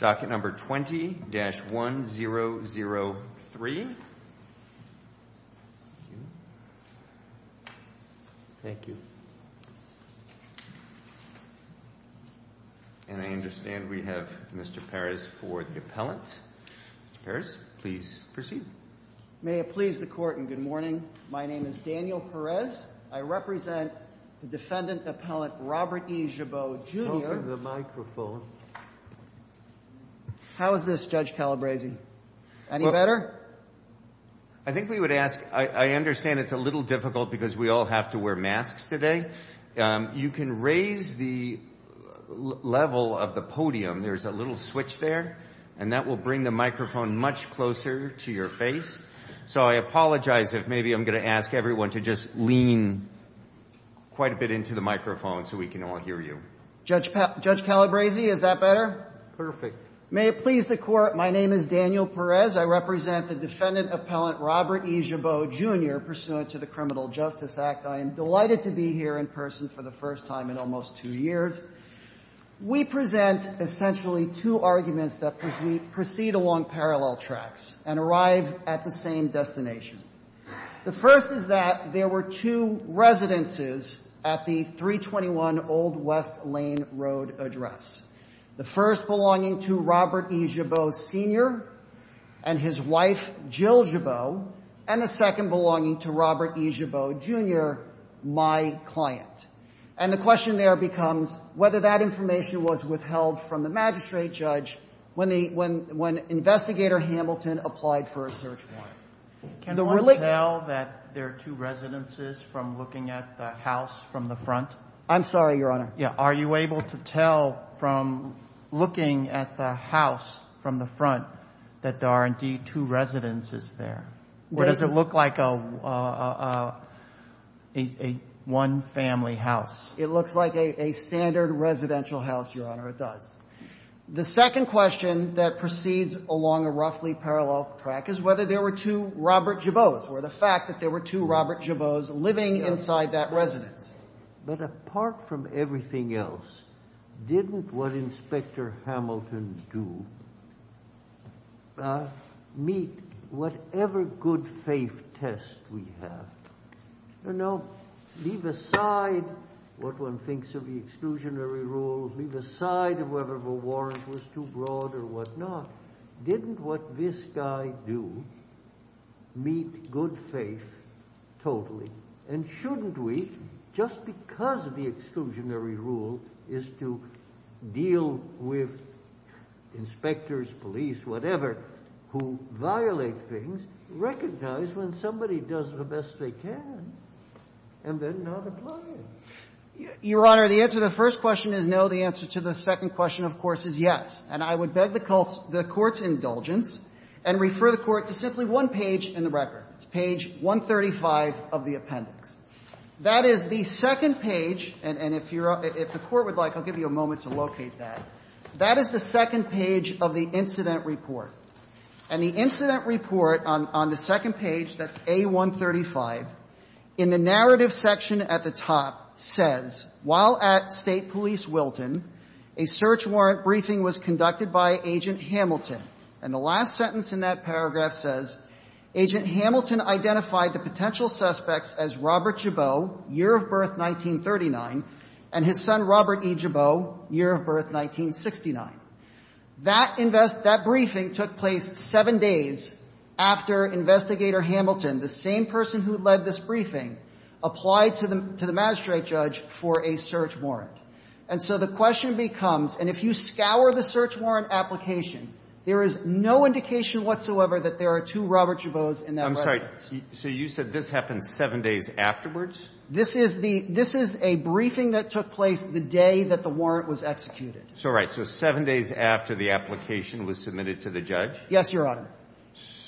docket number 20-1003. Thank you. And I understand we have Mr. Perez for the appellant. Mr. Perez, please proceed. May it please the Court and good morning. My name is Daniel Perez. I represent the defendant appellant Robert E. Gibeault, Jr. How is this, Judge Calabresi? Any better? I think we would ask, I understand it's a little difficult because we all have to wear masks today. You can raise the level of the podium. There's a little switch there and that will bring the microphone much closer to your face. So I apologize if maybe I'm going to ask everyone to just quite a bit into the microphone so we can all hear you. Judge Calabresi, is that better? Perfect. May it please the Court. My name is Daniel Perez. I represent the defendant appellant Robert E. Gibeault, Jr. pursuant to the Criminal Justice Act. I am delighted to be here in person for the first time in almost two years. We present essentially two arguments that proceed along parallel tracks and arrive at the same destination. The first is that there were two residences at the 321 Old West Lane Road address. The first belonging to Robert E. Gibeault, Sr. and his wife Jill Gibeault. And the second belonging to Robert E. Gibeault, Jr., my client. And the question there becomes whether that information was withheld from the magistrate judge when investigator Hamilton applied for a search warrant. Can one tell that there are two residences from looking at the house from the front? I'm sorry, Your Honor. Are you able to tell from looking at the house from the front that there are indeed two residences there? Or does it look like a one-family house? It looks like a standard residential house, Your Honor. It does. The second question that proceeds along a roughly parallel track is whether there were two Robert Gibeaults, or the fact that there were two Robert Gibeaults living inside that residence. But apart from everything else, didn't what Inspector Hamilton do meet whatever good test we have? You know, leave aside what one thinks of the exclusionary rule, leave aside of whether the warrant was too broad or whatnot. Didn't what this guy do meet good faith totally? And shouldn't we, just because the exclusionary rule is to deal with inspectors, police, whatever, who violate things, recognize when somebody does the best they can and then not apply it? Your Honor, the answer to the first question is no. The answer to the second question, of course, is yes. And I would beg the Court's indulgence and refer the Court to simply one page in the record. It's page 135 of the appendix. That is the second page. And if the Court would like, I'll give you a moment to locate that. That is the second page of the incident report. And the incident report on the second page, that's A135, in the narrative section at the top, says, while at State Police Wilton, a search warrant briefing was conducted by Agent Hamilton. And the last sentence in that paragraph says, Agent Hamilton identified the potential suspects as Robert Gibeault, year of birth 1939, and his son, Robert E. Gibeault, year of birth 1969. That briefing took place seven days after Investigator Hamilton, the same person who led this briefing, applied to the magistrate judge for a search warrant. And so the question becomes, and if you scour the search warrant application, there is no indication whatsoever that there are two Robert Gibeaults in that letter. I'm sorry. So you said this happened seven days afterwards? This is a briefing that took place the day that the warrant was executed. So, right. So seven days after the application was submitted to the judge? Yes, Your Honor.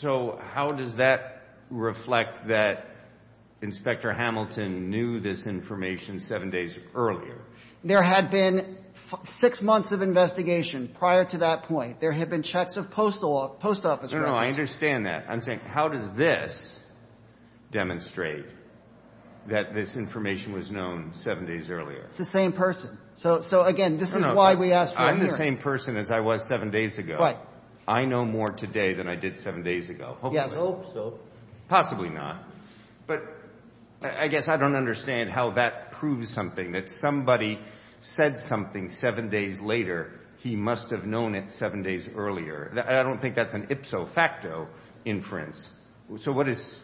So how does that reflect that Inspector Hamilton knew this information seven days earlier? There had been six months of investigation prior to that point. There had been checks of post office records. I understand that. I'm saying, how does this demonstrate that this information was known seven days earlier? It's the same person. So again, this is why we asked you here. I'm the same person as I was seven days ago. Right. I know more today than I did seven days ago. Yes, I hope so. Possibly not. But I guess I don't understand how that proves something, that somebody said something seven days later, he must have known it seven days earlier. I don't think that's an ipso facto inference. So what is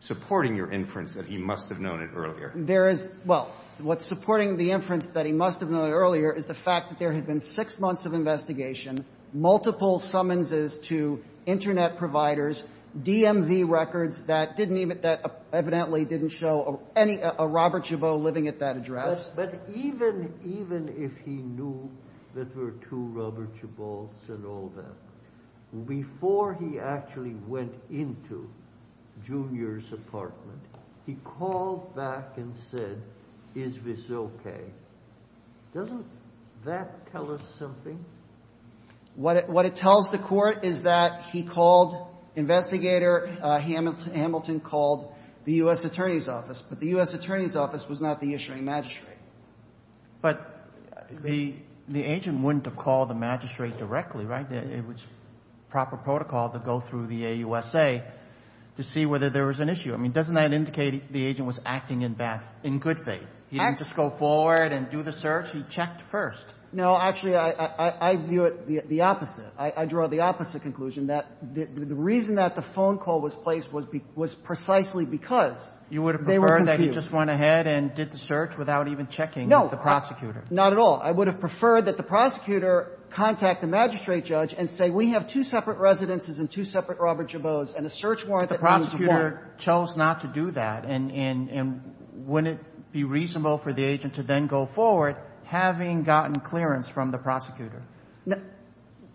supporting your inference that he must have known it earlier? There is – well, what's supporting the inference that he must have known it earlier is the fact that there had been six months of investigation, multiple summonses to Internet providers, DMV records that didn't even – that evidently didn't show any – a Robert Chabot living at that address. But even if he knew there were two Robert Chabots and all that, before he actually went into Junior's apartment, he called back and said, is this okay? Doesn't that tell us something? What it tells the court is that he called – investigator Hamilton called the U.S. Attorney's office was not the issuing magistrate. But the agent wouldn't have called the magistrate directly, right? It was proper protocol to go through the AUSA to see whether there was an issue. I mean, doesn't that indicate the agent was acting in good faith? He didn't just go forward and do the search. He checked first. No. Actually, I view it the opposite. I draw the opposite conclusion, that the reason that the phone call was placed was precisely because they were confused. You would have preferred that he just went ahead and did the search without even checking with the prosecutor? No. Not at all. I would have preferred that the prosecutor contact the magistrate judge and say, we have two separate residences and two separate Robert Chabots, and a search warrant that comes with that. But the prosecutor chose not to do that. And wouldn't it be reasonable for the agent to then go forward, having gotten clearance from the prosecutor?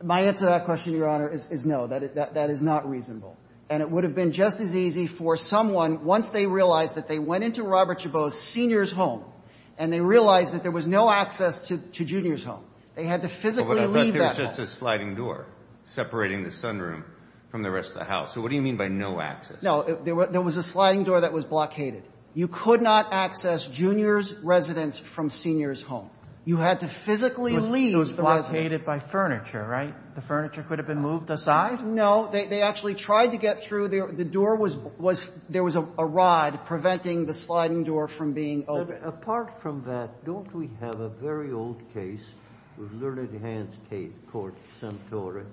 My answer to that question, Your Honor, is no. That is not reasonable. And it would have been just as easy for someone, once they realized that they went into Robert Chabot's senior's home, and they realized that there was no access to Junior's home. They had to physically leave that home. But I thought there was just a sliding door separating the sunroom from the rest of the house. So what do you mean by no access? No. There was a sliding door that was blockaded. You could not access Junior's residence from senior's home. You had to physically leave the residence. It was blockaded by furniture, right? The furniture could have been moved aside? No. They actually tried to get through. The door was, there was a rod preventing the sliding door from being open. But apart from that, don't we have a very old case with Lerner and Hans Court, Suntory,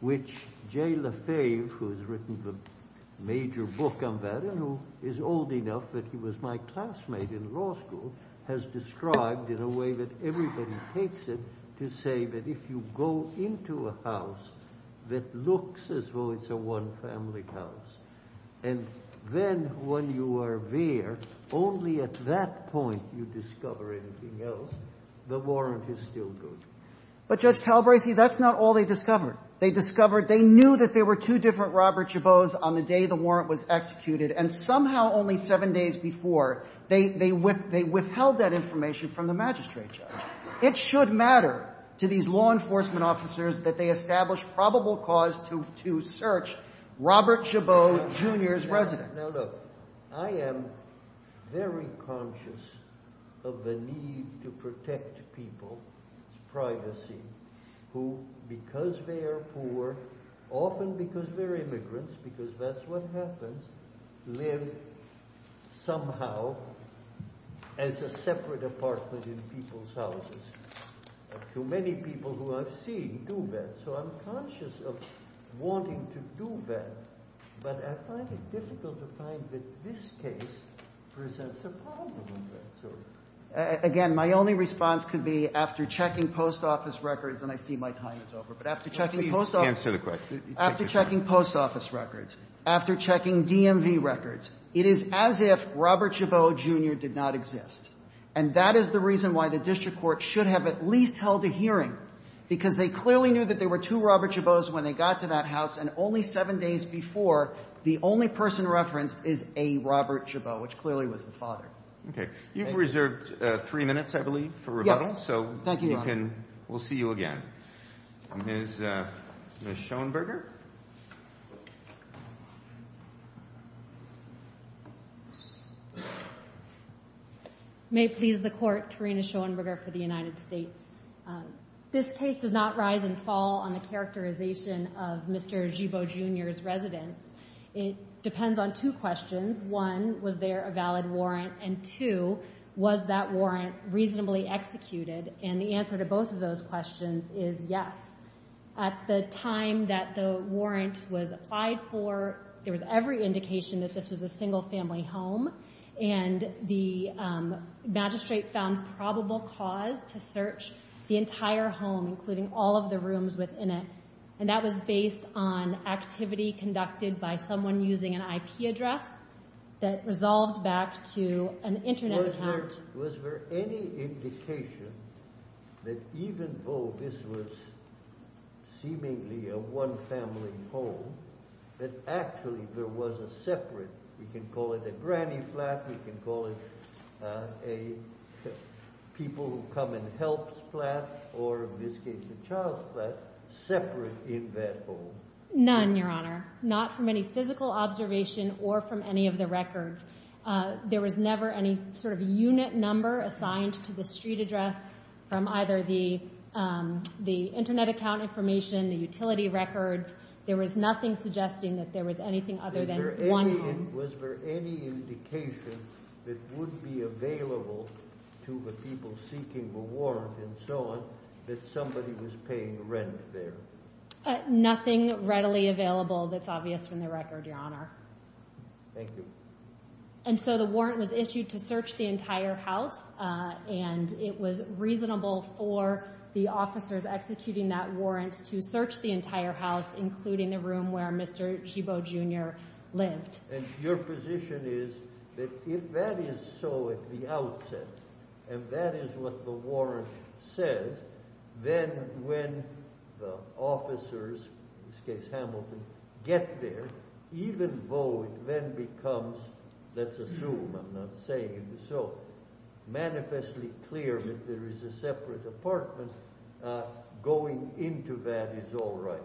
which Jay Lefebvre, who has written the major book on that, and who is old enough that he was my classmate in law school, has described in a way that everybody takes it to say that if you go into a house that looks as though it's a one-family house, and then when you are there, only at that point you discover anything else. The warrant is still good. But Judge Talbrazy, that's not all they discovered. They discovered, they knew that there were two different Robert Chabot's on the day the warrant was executed. And somehow only seven days before, they withheld that information from the public. It should matter to these law enforcement officers that they establish probable cause to search Robert Chabot Jr.'s residence. Now look, I am very conscious of the need to protect people's privacy who, because they are poor, often because they're immigrants, because that's what happens, live somehow as a separate apartment in people's houses. Too many people who I've seen do that. So I'm conscious of wanting to do that. But I find it difficult to find that this case presents a problem in that sort of way. Again, my only response could be, after checking post office records, and I see my time is over, but after checking post office records, after checking post office records, it is as if Robert Chabot Jr. did not exist. And that is the reason why the district court should have at least held a hearing, because they clearly knew that there were two Robert Chabot's when they got to that house, and only seven days before, the only person referenced is a Robert Chabot, which clearly was the father. Okay. You've reserved three minutes, I believe, for rebuttal. Yes. Thank you, Your Honor. We'll see you again. Ms. Schoenberger? I may please the court, Karina Schoenberger for the United States. This case does not rise and fall on the characterization of Mr. Chabot Jr.'s residence. It depends on two questions. One, was there a valid warrant? And two, was that warrant reasonably executed? And the answer to both of those questions is yes. At the time that the warrant was applied for, there was every indication that this was a single-family home, and the magistrate found probable cause to search the entire home, including all of the rooms within it. And that was based on activity conducted by someone using an IP address that resolved back to an internet account. Was there any indication that even though this was seemingly a one-family home, that actually there was a separate—we can call it a granny flat, we can call it a people who come and help's flat, or in this case a child's flat—separate in that home? None, Your Honor. Not from any physical observation or from any of the records. There was never any sort of unit number assigned to the street address from either the internet account information, the utility records. There was nothing suggesting that there was anything other than one home. Was there any indication that would be available to the people seeking the warrant and so on that somebody was paying rent there? Nothing readily available that's obvious from the record, Your Honor. Thank you. And so the warrant was issued to search the entire house, and it was reasonable for the officers executing that warrant to search the entire house, including the room where Mr. Hebo Jr. lived. And your position is that if that is so at the outset, and that is what the warrant says, then when the officers, in this case Hamilton, get there, even though it then becomes—let's assume, I'm not saying it was so manifestly clear that there is a separate apartment—going into that is all right?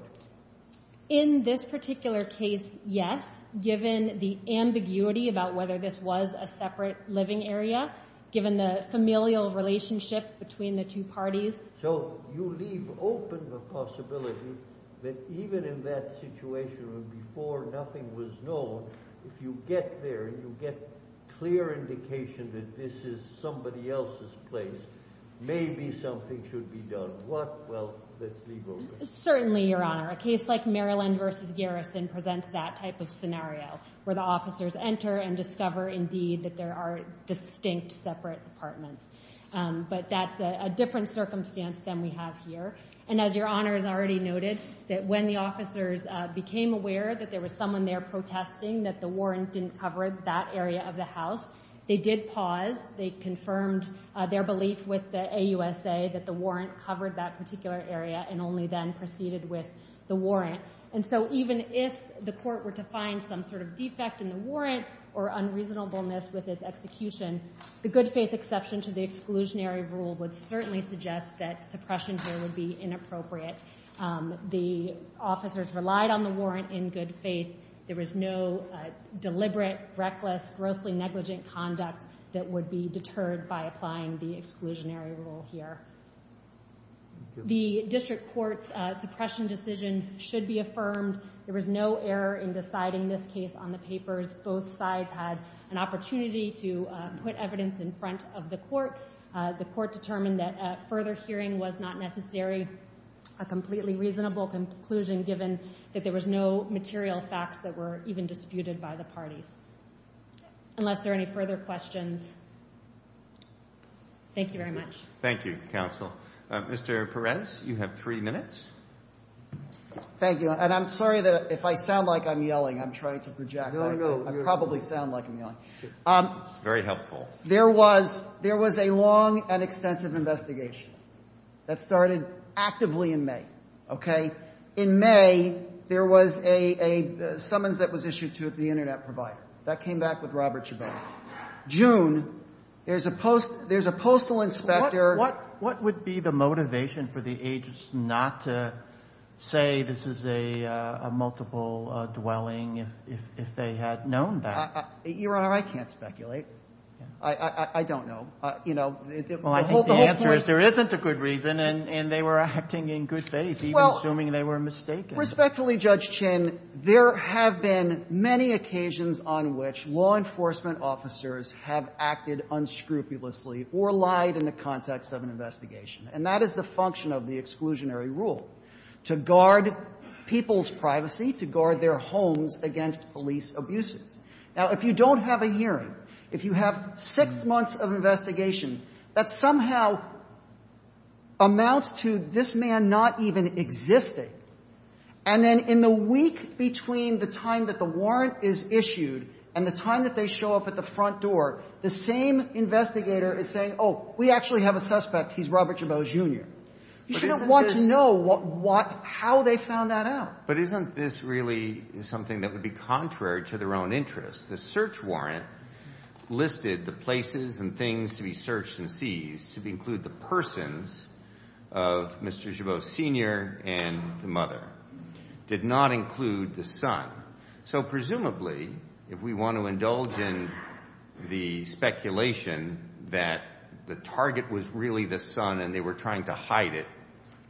In this particular case, yes, given the ambiguity about whether this was a separate living area, given the familial relationship between the two parties. So you leave open the possibility that even in that situation where before nothing was known, if you get there and you get clear indication that this is somebody else's place, maybe something should be done. What? Well, let's leave open. Certainly, Your Honor. A case like Maryland v. Garrison presents that type of scenario, where the officers enter and discover, indeed, that there are distinct separate apartments. But that's a different circumstance than we have here. And as Your Honor has already noted, that when the officers became aware that there was someone there protesting that the warrant didn't cover that area of the house, they did pause. They confirmed their belief with the AUSA that the warrant covered that particular area and only then proceeded with the warrant. And so even if the court were to find some sort of defect in the warrant or unreasonableness with its execution, the good faith exception to the exclusionary rule would certainly suggest that suppression here would be inappropriate. The officers relied on the warrant in good faith. There was no deliberate, reckless, grossly negligent conduct that would be deterred by applying the exclusionary rule here. Thank you. The district court's suppression decision should be affirmed. There was no error in deciding this case on the papers. Both sides had an opportunity to put evidence in front of the court. The court determined that a further hearing was not necessary, a completely reasonable conclusion given that there was no material facts that were even disputed by the parties. Unless there are any further questions. Thank you very much. Thank you, counsel. Mr. Perez, you have three minutes. Thank you. And I'm sorry that if I sound like I'm yelling, I'm trying to project. No, no. I probably sound like I'm yelling. Very helpful. There was a long and extensive investigation that started actively in May, okay? In May, there was a summons that was issued to the internet provider. That came back with Robert Chabot. June, there's a postal inspector. What would be the motivation for the agents not to say this is a multiple dwelling if they had known that? Your Honor, I can't speculate. I don't know. Well, I think the answer is there isn't a good reason, and they were acting in good faith, even assuming they were mistaken. Respectfully, Judge Chin, there have been many occasions on which law enforcement officers have acted unscrupulously or lied in the context of an investigation, and that is the function of the exclusionary rule, to guard people's privacy, to guard their homes against police abuses. Now, if you don't have a hearing, if you have six months of investigation, that somehow amounts to this man not even existing, and then in the week between the time that the warrant is issued and the time that they show up at the front door, the same investigator is saying, oh, we actually have a suspect. He's Robert Chabot, Jr. You shouldn't want to know how they found that out. But isn't this really something that would be contrary to their own interest? The search warrant listed the places and things to be searched and seized to include the persons of Mr. Chabot, Sr. and the mother, did not include the son. So presumably, if we want to indulge in the speculation that the target was really the son and they were trying to hide it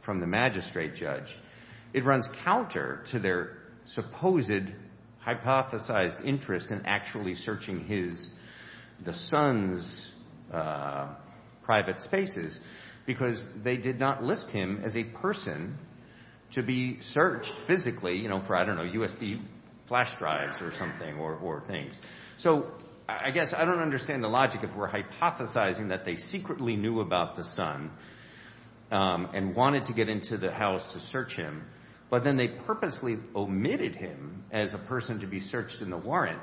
from the magistrate judge, it runs counter to their because they did not list him as a person to be searched physically, you know, for, I don't know, USB flash drives or something or things. So I guess I don't understand the logic if we're hypothesizing that they secretly knew about the son and wanted to get into the house to search him, but then they purposely omitted him as a person to be searched in the warrant.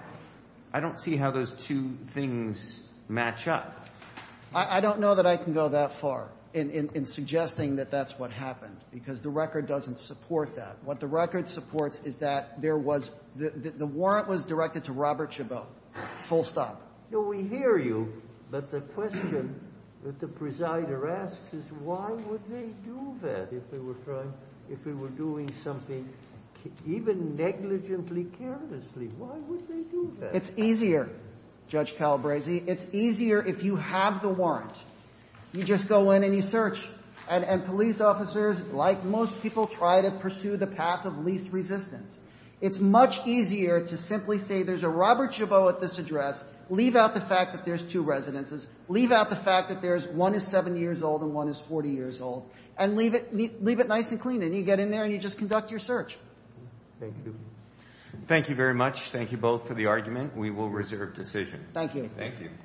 I don't see how those two things match up. I don't know that I can go that far in suggesting that that's what happened, because the record doesn't support that. What the record supports is that there was, the warrant was directed to Robert Chabot, full stop. No, we hear you. But the question that the presider asks is why would they do that if they were trying, if they were doing something even negligently, carelessly, why would they do that? It's easier, Judge Calabresi. It's easier if you have the warrant. You just go in and you search. And police officers, like most people, try to pursue the path of least resistance. It's much easier to simply say there's a Robert Chabot at this address. Leave out the fact that there's two residences. Leave out the fact that there's, one is 7 years old and one is 40 years old. And leave it, leave it nice and clean. And you get in there and you just conduct your search. Thank you. Thank you very much. Thank you both for the argument. We will reserve decision. Thank you. Thank you.